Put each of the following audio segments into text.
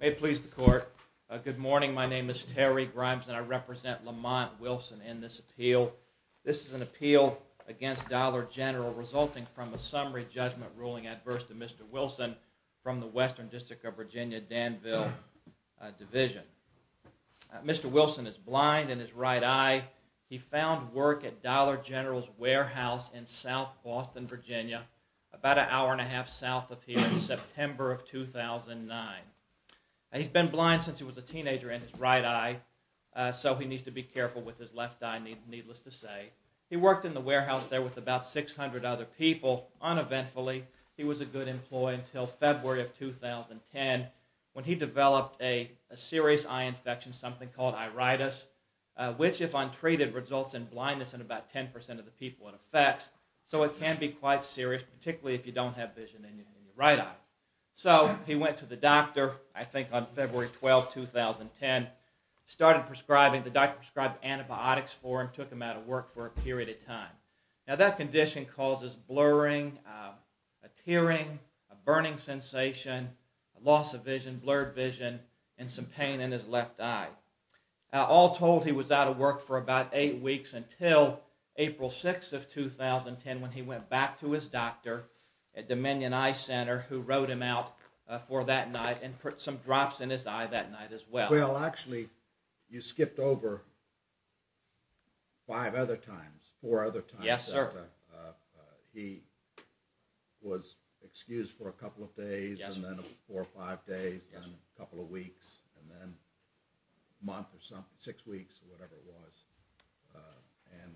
May it please the court, good morning my name is Terry Grimes and I represent Lamont Wilson in this appeal. This is an appeal against Dollar General resulting from a summary judgment ruling adverse to Mr. Wilson from the Western District of Virginia Danville Division. Mr. Wilson is blind in his right eye. He found work at Dollar General's warehouse in South Boston, Virginia about an hour and a half south of here in September of 2009. He's been blind since he was a teenager in his right eye, so he needs to be careful with his left eye, needless to say. He worked in the warehouse there with about 600 other people. Uneventfully, he was a good employee until February of 2010 when he developed a serious eye infection, something called iritis, which if untreated results in blindness in about 10% of the people it affects. So it can be quite serious, particularly if you don't have vision in your right eye. So he went to the doctor, I think on February 12, 2010, started prescribing. The doctor prescribed antibiotics for him, took him out of work for a period of time. Now that condition causes blurring, a tearing, a burning sensation, loss of vision, blurred vision, and some pain in his left eye. All told, he was out of work for about eight weeks until April 6, 2010 when he went back to his doctor at Dominion Eye Center who wrote him out for that night and put some drops in his eye that night as well. Well, actually, you skipped over five other times, four other times. Yes, sir. He was excused for a couple of days, and then four or five days, and then a couple of weeks, and then a month or something, six weeks, or whatever it was. And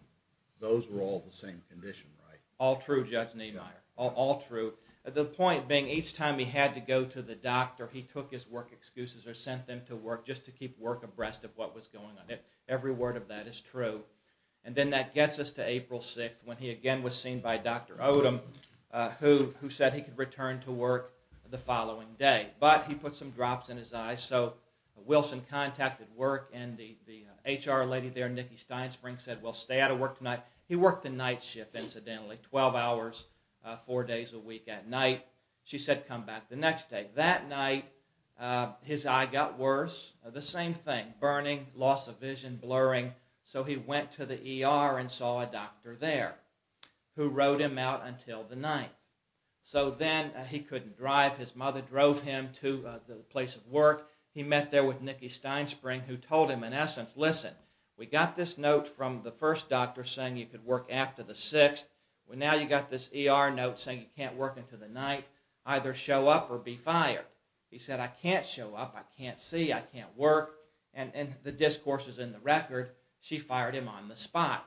those were all the same condition, right? All true, Judge Niemeyer. All true. The point being, each time he had to go to the doctor, he took his work excuses or sent them to work just to keep work abreast of what was going on. Every word of that is true. And then that gets us to April 6, when he again was seen by Dr. Odom, who said he could return to work the following day. But he put some drops in his eye, so Wilson contacted work, and the HR lady there, Nikki Steinspring, said, well, stay out of work tonight. He worked the night shift, incidentally, 12 hours, four days a week at night. She said, come back the next day. That night, his eye got worse. The same thing. Burning, loss of vision, blurring. So he went to the ER and saw a doctor there, who wrote him out until the night. So then he couldn't drive. His mother drove him to the place of work. He met there with Nikki Steinspring, who told him, in essence, listen, we got this note from the first doctor saying you could work after the 6th. Well, now you got this ER note saying you can't work until the night, either show up or be fired. He said, I can't show up, I can't see, I can't work. And the discourse is in the record, she fired him on the spot.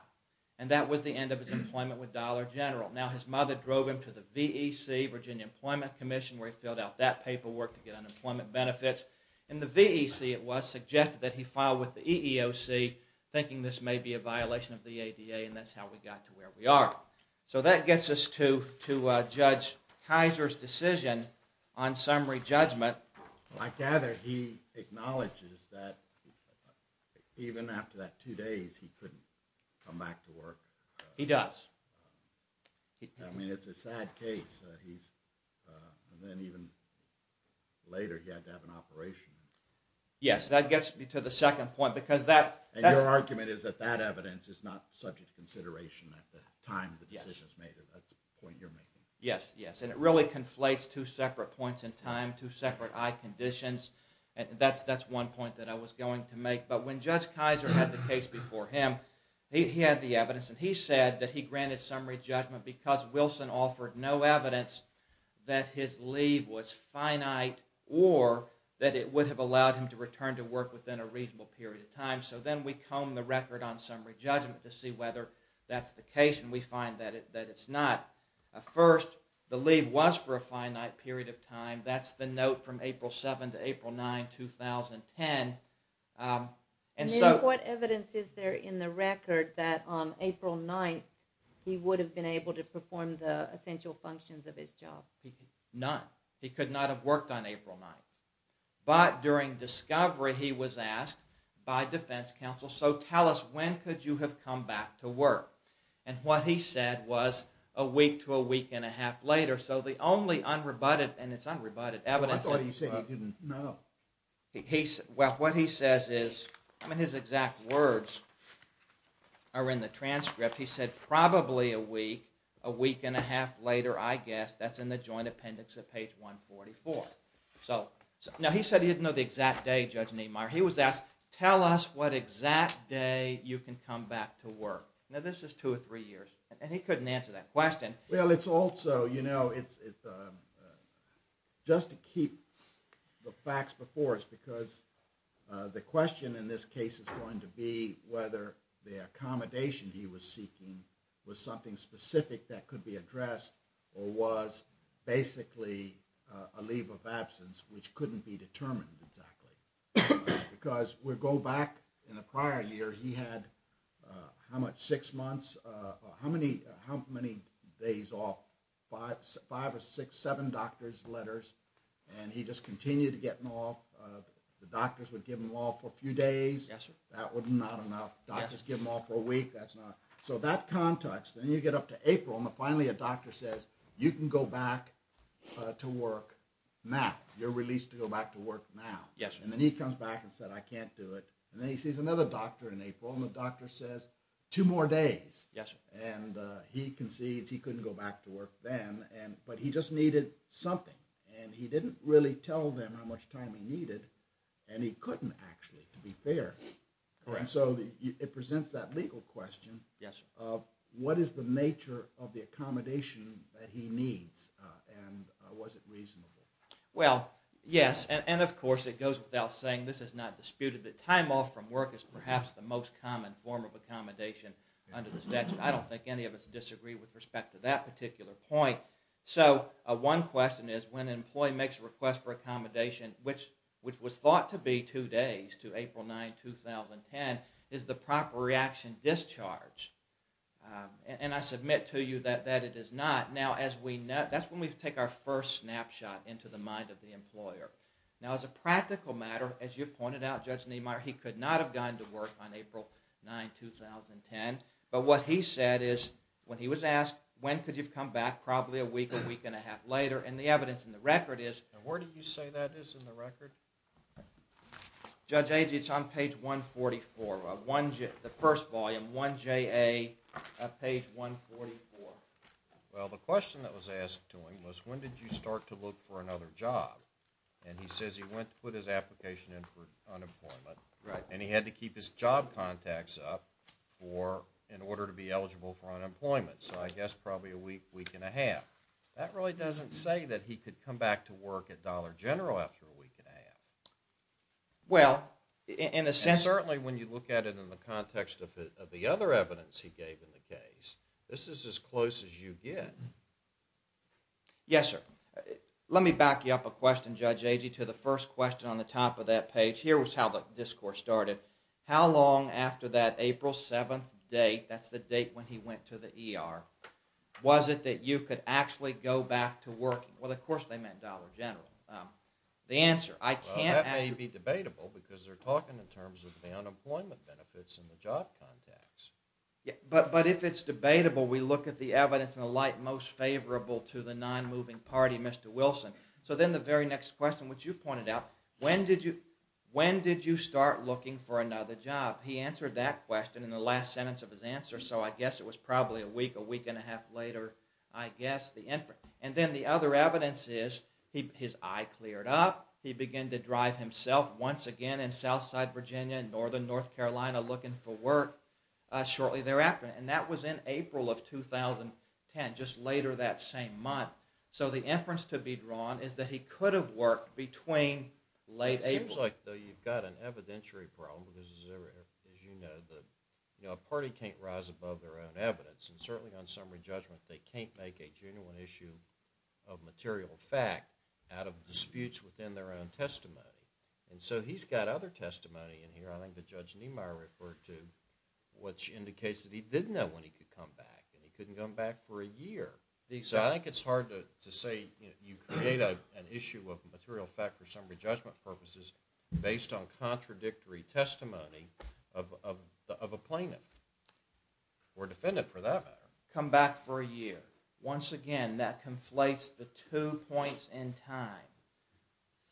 And that was the end of his employment with Dollar General. Now, his mother drove him to the VEC, Virginia Employment Commission, where he filled out that paperwork to get unemployment benefits. And the VEC, it was, suggested that he file with the EEOC, thinking this may be a violation of the ADA, and that's how we got to where we are. So that gets us to Judge Kaiser's decision on summary judgment. I gather he acknowledges that even after that two days, he couldn't come back to work. He does. I mean, it's a sad case. And then even later, he had to have an operation. Yes, that gets me to the second point, because that... Yes, yes. And it really conflates two separate points in time, two separate eye conditions. That's one point that I was going to make. But when Judge Kaiser had the case before him, he had the evidence, and he said that he granted summary judgment because Wilson offered no evidence that his leave was finite or that it would have allowed him to return to work within a reasonable period of time. So then we combed the record on summary judgment to see whether that's the case, and we find that it's not. First, the leave was for a finite period of time. That's the note from April 7 to April 9, 2010. And then what evidence is there in the record that on April 9, he would have been able to perform the essential functions of his job? None. He could not have worked on April 9. But during discovery, he was asked by defense counsel, so tell us, when could you have come back to work? And what he said was, a week to a week and a half later. So the only unrebutted, and it's unrebutted evidence... I thought he said he didn't know. Well, what he says is, I mean, his exact words are in the transcript. He said, probably a week, a week and a half later, I guess. That's in the joint appendix of page 144. Now, he said he didn't know the exact day, Judge Nehmeyer. He was asked, tell us what exact day you can come back to work. Now, this is two or three years, and he couldn't answer that question. Well, it's also, you know, just to keep the facts before us, because the question in this case is going to be whether the accommodation he was seeking was something specific that could be addressed or was basically a leave of absence which couldn't be determined exactly. Because we go back in the prior year, he had how many days off? Five or six, seven doctor's letters, and he just continued to get them off. The doctors would give them off for a few days. That was not enough. Doctors give them off for a week. So that context, and then you get up to April, and finally a doctor says, you can go back to work now. You're released to go back to work now. And then he comes back and said, I can't do it. And then he sees another doctor in April, and the doctor says, two more days. And he concedes he couldn't go back to work then, but he just needed something, and he didn't really tell them how much time he needed, and he couldn't actually, to be fair. And so it presents that legal question of what is the nature of the accommodation that he needs, and was it reasonable? Well, yes, and of course it goes without saying, this is not disputed that time off from work is perhaps the most common form of accommodation under the statute. I don't think any of us disagree with respect to that particular point. So one question is when an employee makes a request for accommodation, which was thought to be two days, to April 9, 2010, is the proper reaction discharge? And I submit to you that it is not. Now, that's when we take our first snapshot into the mind of the employer. Now, as a practical matter, as you pointed out, Judge Niemeyer, he could not have gone to work on April 9, 2010, but what he said is, when he was asked, when could you come back, probably a week, a week and a half later, and the evidence in the record is... And where do you say that is in the record? Judge Agee, it's on page 144, the first volume, 1JA, page 144. Well, the question that was asked to him was, when did you start to look for another job? And he says he went to put his application in for unemployment, and he had to keep his job contacts up in order to be eligible for unemployment, so I guess probably a week, week and a half. That really doesn't say that he could come back to work and be at Dollar General after a week and a half. Well, in a sense... And certainly when you look at it in the context of the other evidence he gave in the case, this is as close as you get. Yes, sir. Let me back you up a question, Judge Agee, to the first question on the top of that page. Here was how the discourse started. How long after that April 7th date, that's the date when he went to the ER, was it that you could actually go back to working? Well, of course they meant Dollar General. The answer, I can't... Well, that may be debatable, because they're talking in terms of the unemployment benefits and the job contacts. But if it's debatable, we look at the evidence in the light most favorable to the non-moving party, Mr. Wilson. So then the very next question, which you pointed out, when did you start looking for another job? He answered that question in the last sentence of his answer, so I guess it was probably a week, a week and a half later, I guess. That's the inference. And then the other evidence is, his eye cleared up, he began to drive himself once again in Southside Virginia and Northern North Carolina looking for work shortly thereafter. And that was in April of 2010, just later that same month. So the inference to be drawn is that he could have worked between late April... It seems like you've got an evidentiary problem, because as you know, a party can't rise above their own evidence. And certainly on summary judgment, they can't make a genuine issue of material fact out of disputes within their own testimony. And so he's got other testimony in here, I think that Judge Niemeyer referred to, which indicates that he didn't know when he could come back, and he couldn't come back for a year. So I think it's hard to say you create an issue of material fact for summary judgment purposes based on contradictory testimony of a plaintiff. We're defendant for that matter. ...come back for a year. Once again, that conflates the two points in time.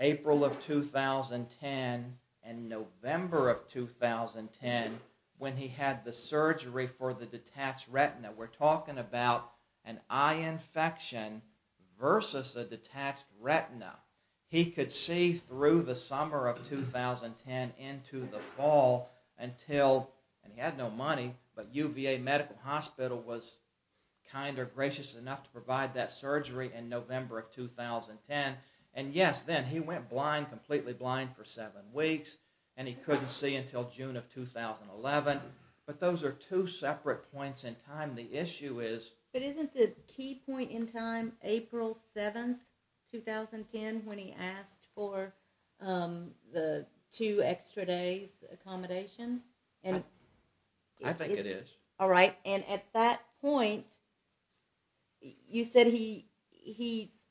April of 2010 and November of 2010, when he had the surgery for the detached retina. We're talking about an eye infection versus a detached retina. He could see through the summer of 2010 into the fall until... And he had no money, but UVA Medical Hospital was kind or gracious enough to provide that surgery in November of 2010. And yes, then he went blind, completely blind, for seven weeks, and he couldn't see until June of 2011. But those are two separate points in time. The issue is... But isn't the key point in time April 7, 2010, when he asked for the two extra days accommodation? I think it is. All right. And at that point, you said he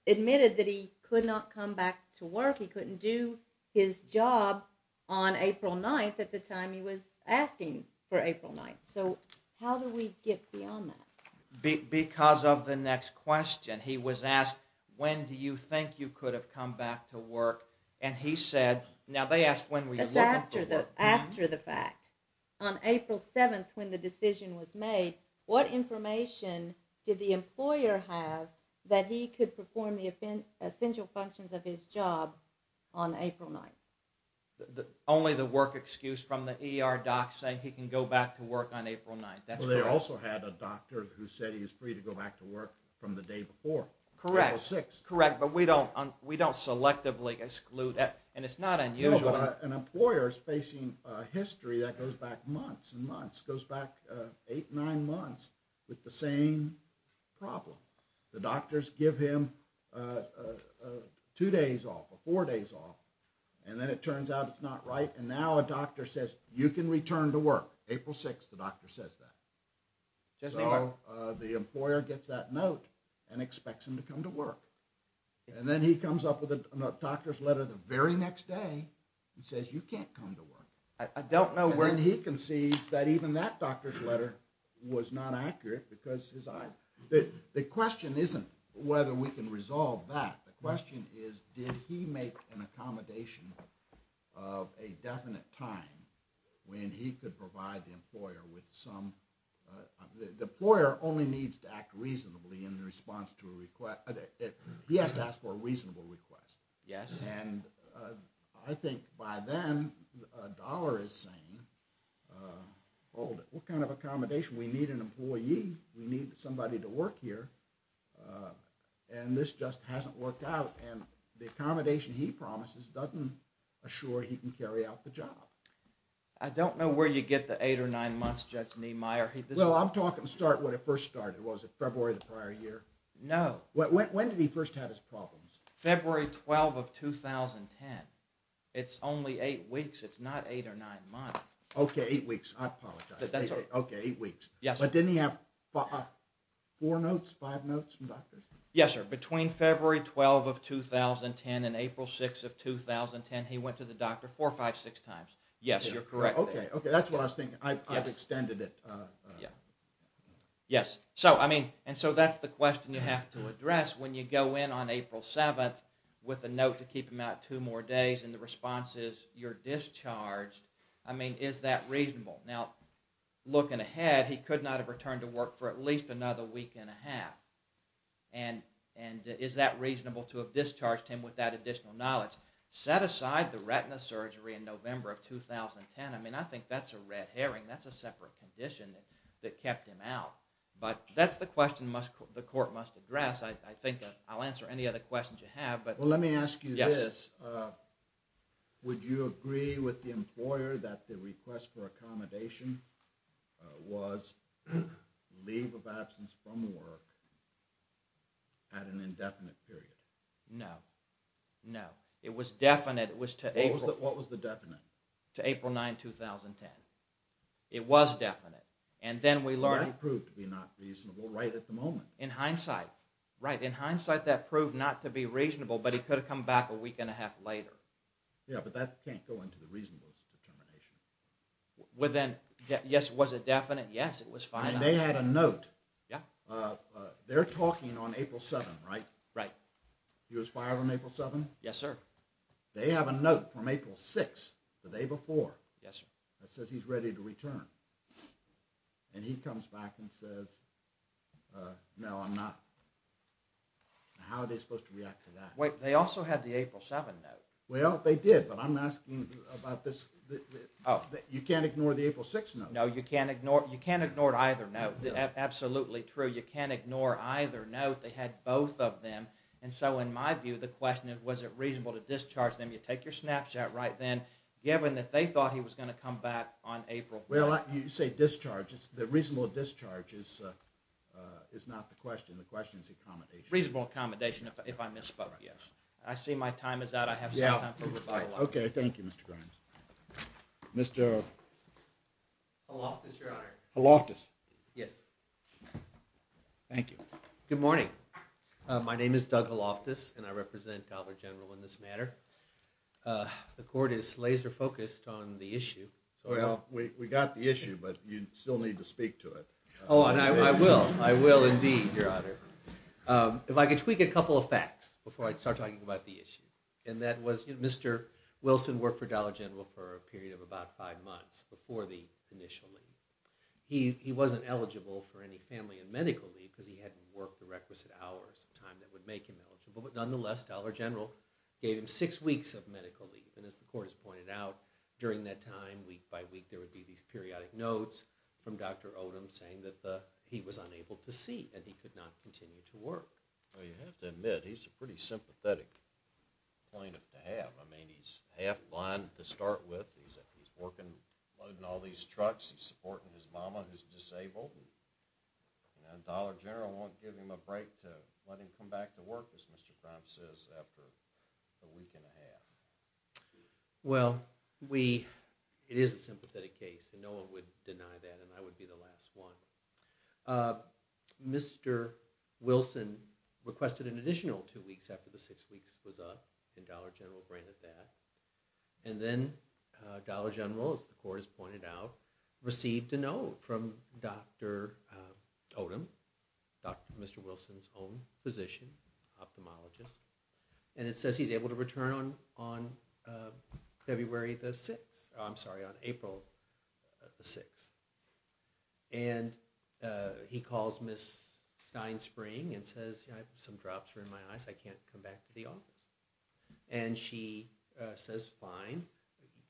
admitted that he could not come back to work. He couldn't do his job on April 9th at the time he was asking for April 9th. So how do we get beyond that? Because of the next question. He was asked, when do you think you could have come back to work? And he said... Now, they asked when were you looking for work. After the fact. On April 7th, when the decision was made, what information did the employer have that he could perform the essential functions of his job on April 9th? Only the work excuse from the ER doc saying he can go back to work on April 9th. They also had a doctor who said he was free to go back to work from the day before, April 6th. Correct. But we don't selectively exclude that. And it's not unusual. An employer is facing history that goes back months and months, goes back 8, 9 months with the same problem. The doctors give him 2 days off or 4 days off, and then it turns out it's not right, and now a doctor says you can return to work. April 6th, the doctor says that. So the employer gets that note and expects him to come to work. And then he comes up with a doctor's letter the very next day and says you can't come to work. I don't know where... And then he concedes that even that doctor's letter was not accurate because his eyes... The question isn't whether we can resolve that. The question is did he make an accommodation of a definite time when he could provide the employer with some... The employer only needs to act reasonably in response to a request... He has to ask for a reasonable request. Yes. And I think by then a dollar is saying, hold it, what kind of accommodation? We need an employee. We need somebody to work here. And this just hasn't worked out, and the accommodation he promises doesn't assure he can carry out the job. I don't know where you get the 8 or 9 months, Judge Niemeyer. Well, I'm talking start when it first started. Was it February of the prior year? No. When did he first have his problems? February 12 of 2010. It's only 8 weeks. It's not 8 or 9 months. Okay, 8 weeks. I apologize. Okay, 8 weeks. But didn't he have 4 notes, 5 notes from doctors? Yes, sir. Between February 12 of 2010 and April 6 of 2010, he went to the doctor 4, 5, 6 times. Yes, you're correct. Okay, that's what I was thinking. I've extended it. Yes. And so that's the question you have to address when you go in on April 7th with a note to keep him out 2 more days and the response is you're discharged. I mean, is that reasonable? Now, looking ahead, he could not have returned to work for at least another week and a half. And is that reasonable to have discharged him without additional knowledge? Set aside the retina surgery in November of 2010, I mean, I think that's a red herring. That's a separate condition that kept him out. But that's the question the court must address. I think I'll answer any other questions you have. Well, let me ask you this. Would you agree with the employer that the request for accommodation was leave of absence from work at an indefinite period? No, no. It was definite. What was the definite? To April 9, 2010. It was definite. That proved to be not reasonable right at the moment. In hindsight, right. In hindsight, that proved not to be reasonable, but he could have come back a week and a half later. Yeah, but that can't go into the reasonableness determination. Within, yes, was it definite? Yes, it was finite. And they had a note. They're talking on April 7, right? Right. He was fired on April 7? Yes, sir. Yes, sir. That says he's ready to return. And he comes back and says, no, I'm not. How are they supposed to react to that? Wait, they also had the April 7 note. Well, they did, but I'm asking about this. You can't ignore the April 6 note. No, you can't ignore it. You can't ignore either note. Absolutely true. You can't ignore either note. They had both of them. And so in my view, the question is, was it reasonable to discharge them? You take your snapshot right then, given that they thought he was going to come back on April 7. Well, you say discharge. The reasonable discharge is not the question. The question is accommodation. Reasonable accommodation, if I misspoke, yes. I see my time is out. I have some time for rebuttal. Okay, thank you, Mr. Grimes. Mr. Haloftas, Your Honor. Haloftas. Yes. Thank you. Good morning. My name is Doug Haloftas, and I represent Dallas General in this matter. The court is laser-focused on the issue. Well, we got the issue, but you still need to speak to it. Oh, and I will. I will indeed, Your Honor. If I could tweak a couple of facts before I start talking about the issue, and that was Mr. Wilson worked for Dallas General for a period of about five months before the initial leave. He wasn't eligible for any family and medical leave because he hadn't worked the requisite hours of time that would make him eligible. Nonetheless, Dallas General gave him six weeks of medical leave, and as the court has pointed out, during that time, week by week, there would be these periodic notes from Dr. Odom saying that he was unable to see, and he could not continue to work. Well, you have to admit, he's a pretty sympathetic plaintiff to have. I mean, he's half-blind to start with. He's working, loading all these trucks. He's supporting his mama who's disabled. And Dallas General won't give him a break to let him come back to work, as Mr. Crump says, after a week and a half. Well, it is a sympathetic case, and no one would deny that, and I would be the last one. Mr. Wilson requested an additional two weeks after the six weeks was up, and Dallas General granted that. And then Dallas General, as the court has pointed out, received a note from Dr. Odom, Dr. Mr. Wilson's own physician, ophthalmologist, and it says he's able to return on February the 6th. I'm sorry, on April the 6th. And he calls Ms. Steinspring and says, some drops are in my eyes, I can't come back to the office. And she says, fine,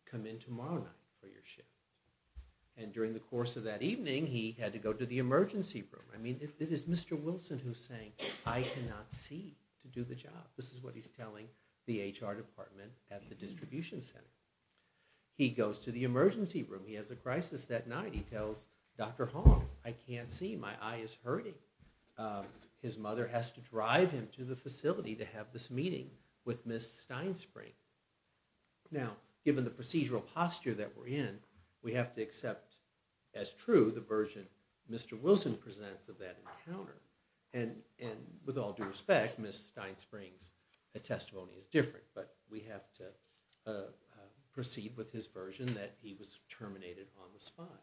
come in tomorrow night for your shift. And during the course of that evening, he had to go to the emergency room. I mean, it is Mr. Wilson who's saying, I cannot see to do the job. This is what he's telling the HR department at the distribution center. He goes to the emergency room, he has a crisis that night, he tells Dr. Hong, I can't see, my eye is hurting. His mother has to drive him to the facility to have this meeting with Ms. Steinspring. Now, given the procedural posture that we're in, we have to accept as true the version Mr. Wilson presents of that encounter. And with all due respect, Ms. Steinspring's testimony is different, but we have to proceed with his version that he was terminated on the spot.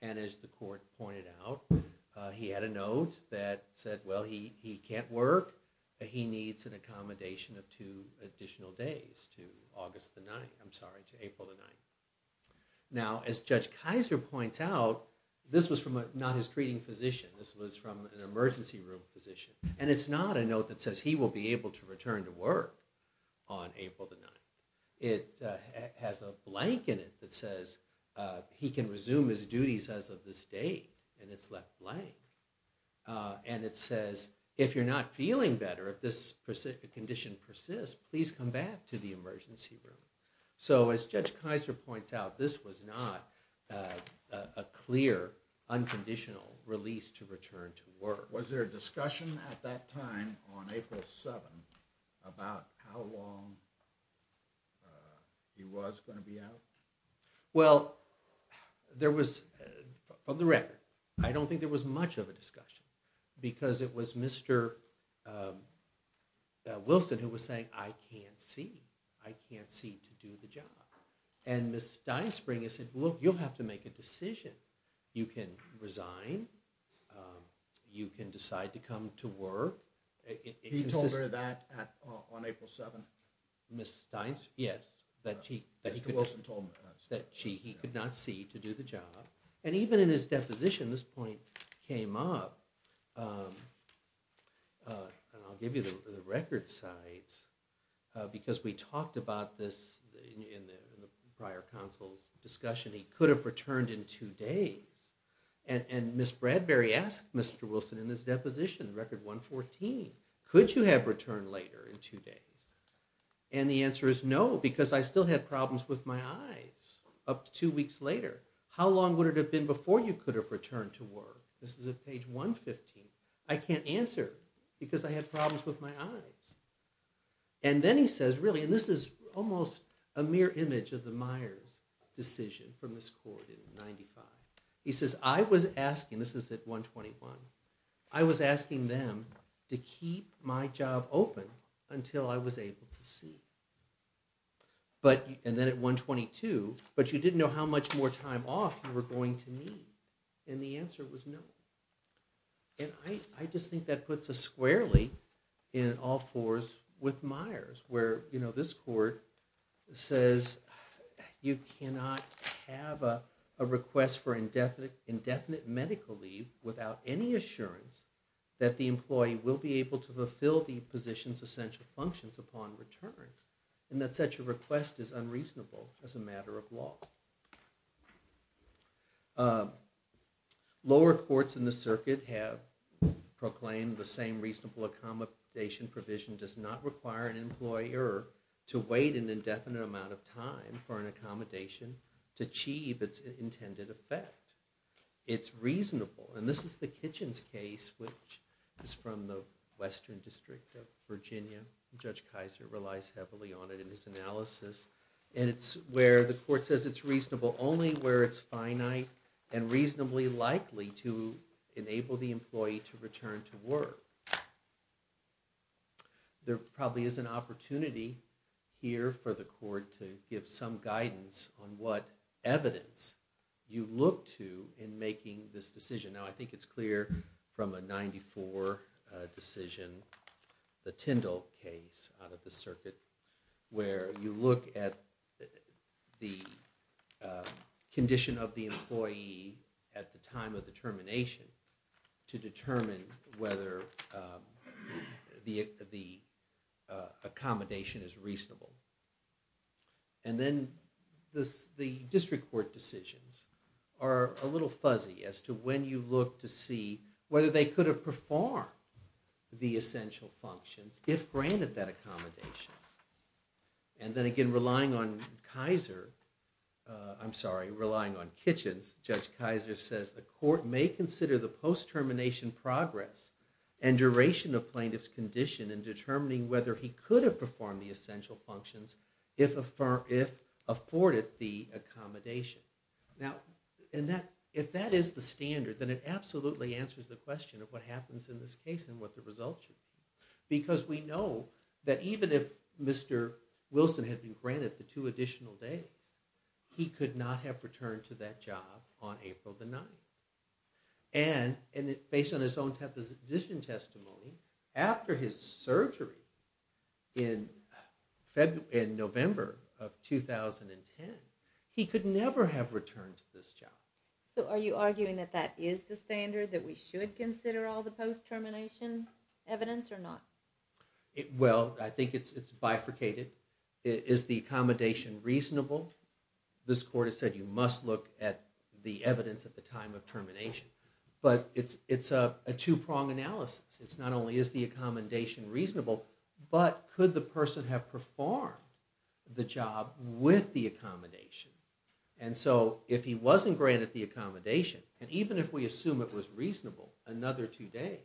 And as the court pointed out, he had a note that said, well, he can't work, he needs an accommodation of two additional days to April the 9th. Now, as Judge Kaiser points out, this was from not his treating physician, this was from an emergency room physician. And it's not a note that says he will be able to return to work on April the 9th. It has a blank in it that says he can resume his duties as of this date, and it's left blank. And it says, if you're not feeling better, if this condition persists, please come back to the emergency room. So as Judge Kaiser points out, this was not a clear, unconditional release to return to work. Was there a discussion at that time on April 7th about how long he was going to be out? Well, there was, from the record, I don't think there was much of a discussion because it was Mr. Wilson who was saying, I can't see, I can't see to do the job. And Ms. Steinspring has said, well, you'll have to make a decision. You can resign, you can decide to come to work. He told her that on April 7th? Ms. Steinspring, yes, that he could not see to do the job. And even in his deposition, this point came up, and I'll give you the record sites, because we talked about this in the prior council's discussion, he could have returned in two days. And Ms. Bradbury asked Mr. Wilson in his deposition, record 114, could you have returned later in two days? And the answer is no, because I still had problems with my eyes up to two weeks later. How long would it have been before you could have returned to work? This is at page 115. I can't answer, because I had problems with my eyes. And then he says, really, and this is almost a mere image of the Myers decision from this court in 95. He says, I was asking, this is at 121, I was asking them to keep my job open until I was able to see. And then at 122, but you didn't know how much more time off you were going to need. And the answer was no. And I just think that puts us squarely in all fours with Myers, where this court says you cannot have a request for indefinite medical leave without any assurance that the employee will be able to fulfill the position's essential functions upon return, and that such a request is unreasonable as a matter of law. Lower courts in the circuit have proclaimed the same reasonable accommodation provision does not require an employer to wait an indefinite amount of time for an accommodation to achieve its intended effect. It's reasonable. And this is the Kitchens case, which is from the Western District of Virginia. Judge Kaiser relies heavily on it in his analysis. And it's where the court says it's reasonable only where it's finite and reasonably likely to enable the employee to return to work. There probably is an opportunity here for the court to give some guidance on what evidence you look to in making this decision. Now, I think it's clear from a 94 decision in the Tyndall case out of the circuit, where you look at the condition of the employee at the time of the termination to determine whether the accommodation is reasonable. And then the district court decisions are a little fuzzy as to when you look to see whether they could have performed the essential functions if granted that accommodation. And then again, relying on Kitchens, Judge Kaiser says the court may consider the post-termination progress and duration of plaintiff's condition in determining whether he could have performed the essential functions if afforded the accommodation. Now, if that is the standard, then it absolutely answers the question of what happens in this case and what the results should be. Because we know that even if Mr. Wilson had been granted the two additional days, he could not have returned to that job on April the 9th. And based on his own temposition testimony, after his surgery in November of 2010, he could never have returned to this job. So are you arguing that that is the standard, that we should consider all the post-termination evidence or not? Well, I think it's bifurcated. Is the accommodation reasonable? This court has said you must look at the evidence at the time of termination. But it's a two-pronged analysis. It's not only is the accommodation reasonable, but could the person have performed the job with the accommodation? And so if he wasn't granted the accommodation, and even if we assume it was reasonable, another two days,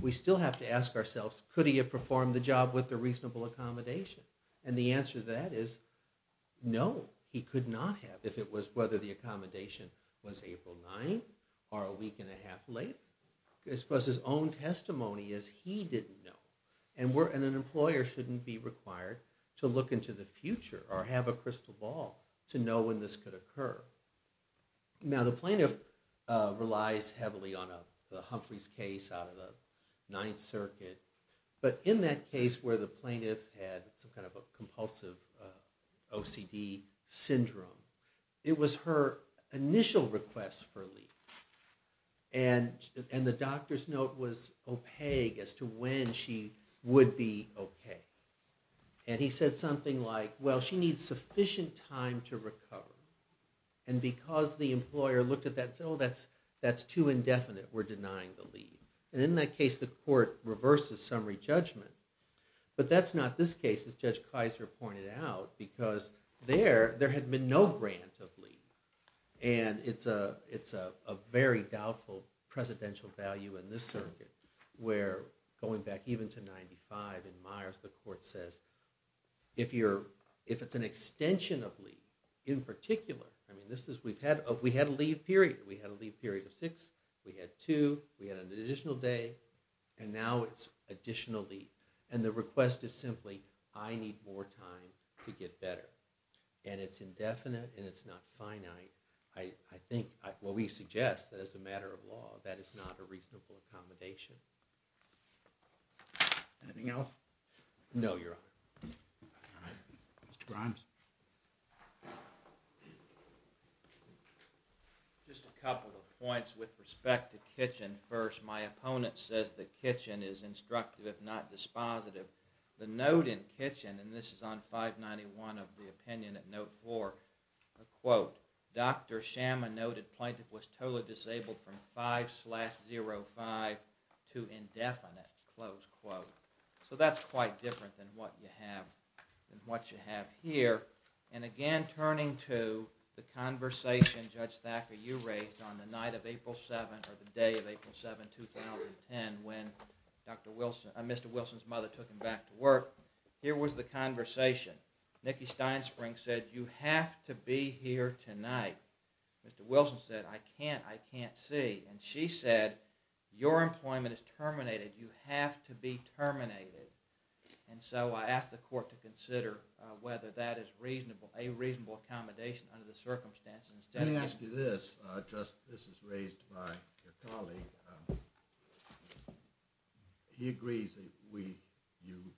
we still have to ask ourselves, could he have performed the job with a reasonable accommodation? And the answer to that is no, he could not have, if it was whether the accommodation was April 9th or a week and a half later. Because his own testimony is he didn't know. And an employer shouldn't be required to look into the future or have a crystal ball to know when this could occur. Now, the plaintiff relies heavily on Humphrey's case out of the Ninth Circuit. But in that case where the plaintiff had some kind of a compulsive OCD syndrome, it was her initial request for leave. And the doctor's note was opaque as to when she would be OK. And he said something like, well, she needs sufficient time to recover. And because the employer looked at that and said, oh, that's too indefinite. We're denying the leave. And in that case, the court reverses summary judgment. But that's not this case, as Judge Kaiser pointed out, because there had been no grant of leave. And it's a very doubtful presidential value in this circuit where, going back even to 95 in Myers, the court says, if it's an extension of leave, in particular, I mean, we had a leave period. We had a leave period of six. We had two. We had an additional day. And now it's additional leave. And the request is simply, I need more time to get better. And it's indefinite. And it's not finite. I think, well, we suggest that as a matter of law, that is not a reasonable accommodation. Anything else? No, Your Honor. Mr. Grimes? Just a couple of points with respect to kitchen first. My opponent says the kitchen is instructive, if not dispositive. The note in kitchen, and this is on 591 of the opinion at note four, a quote, Dr. Schama noted plaintiff was totally disabled from 5 slash 05 to indefinite, close quote. So that's quite different than what you have here. And again, turning to the conversation Judge Thacker, you raised on the night of April 7, or the day of April 7, 2010, when Mr. Wilson's mother took him back to work, here was the conversation. Nikki Steinspring said, you have to be here tonight. Mr. Wilson said, I can't. I can't see. And she said, your employment is terminated. You have to be terminated. And so I asked the court to consider whether that is a reasonable accommodation under the circumstances. Let me ask you this. He agrees that you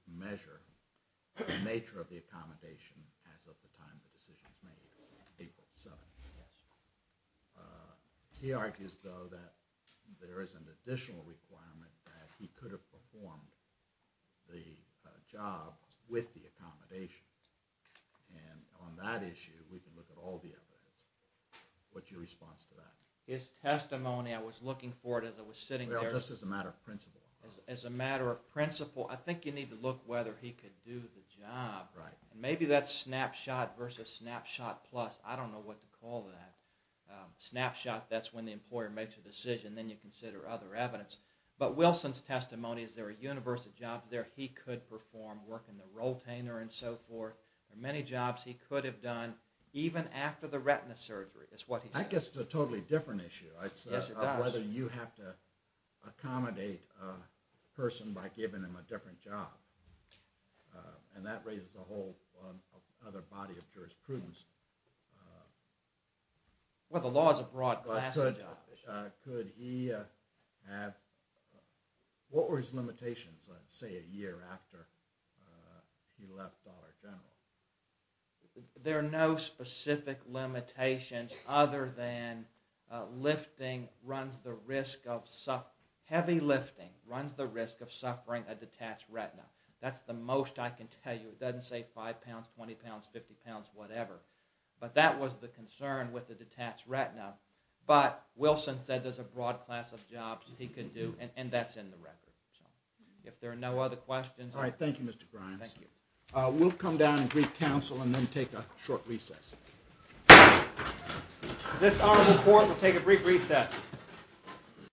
measure the nature of the accommodation as of the time the decision is made, April 7. He argues, though, that there is an additional requirement that he could have performed the job with the accommodation. And on that issue, we can look at all the evidence. What's your response to that? His testimony, I was looking for it as I was sitting there. Well, just as a matter of principle. As a matter of principle, I think you need to look whether he could do the job. And maybe that's snapshot versus snapshot plus. I don't know what to call that. Snapshot, that's when the employer makes a decision. Then you consider other evidence. But Wilson's testimony is there are universal jobs there. He could perform work in the roll tainter and so forth. There are many jobs he could have done even after the retina surgery, is what he said. That gets to a totally different issue. Yes, it does. Whether you have to accommodate a person by giving them a different job. And that raises a whole other body of jurisprudence. Well, the law is a broad class of jobs. But could he have, what were his limitations, say a year after he left Dollar General? There are no specific limitations other than lifting runs the risk of, heavy lifting runs the risk of suffering a detached retina. That's the most I can tell you. It doesn't say 5 pounds, 20 pounds, 50 pounds, whatever. But that was the concern with the detached retina. But Wilson said there's a broad class of jobs he could do. And that's in the record. If there are no other questions. Alright, thank you Mr. Grimes. Thank you. We'll come down and brief counsel and then take a short recess. This honorable court will take a brief recess.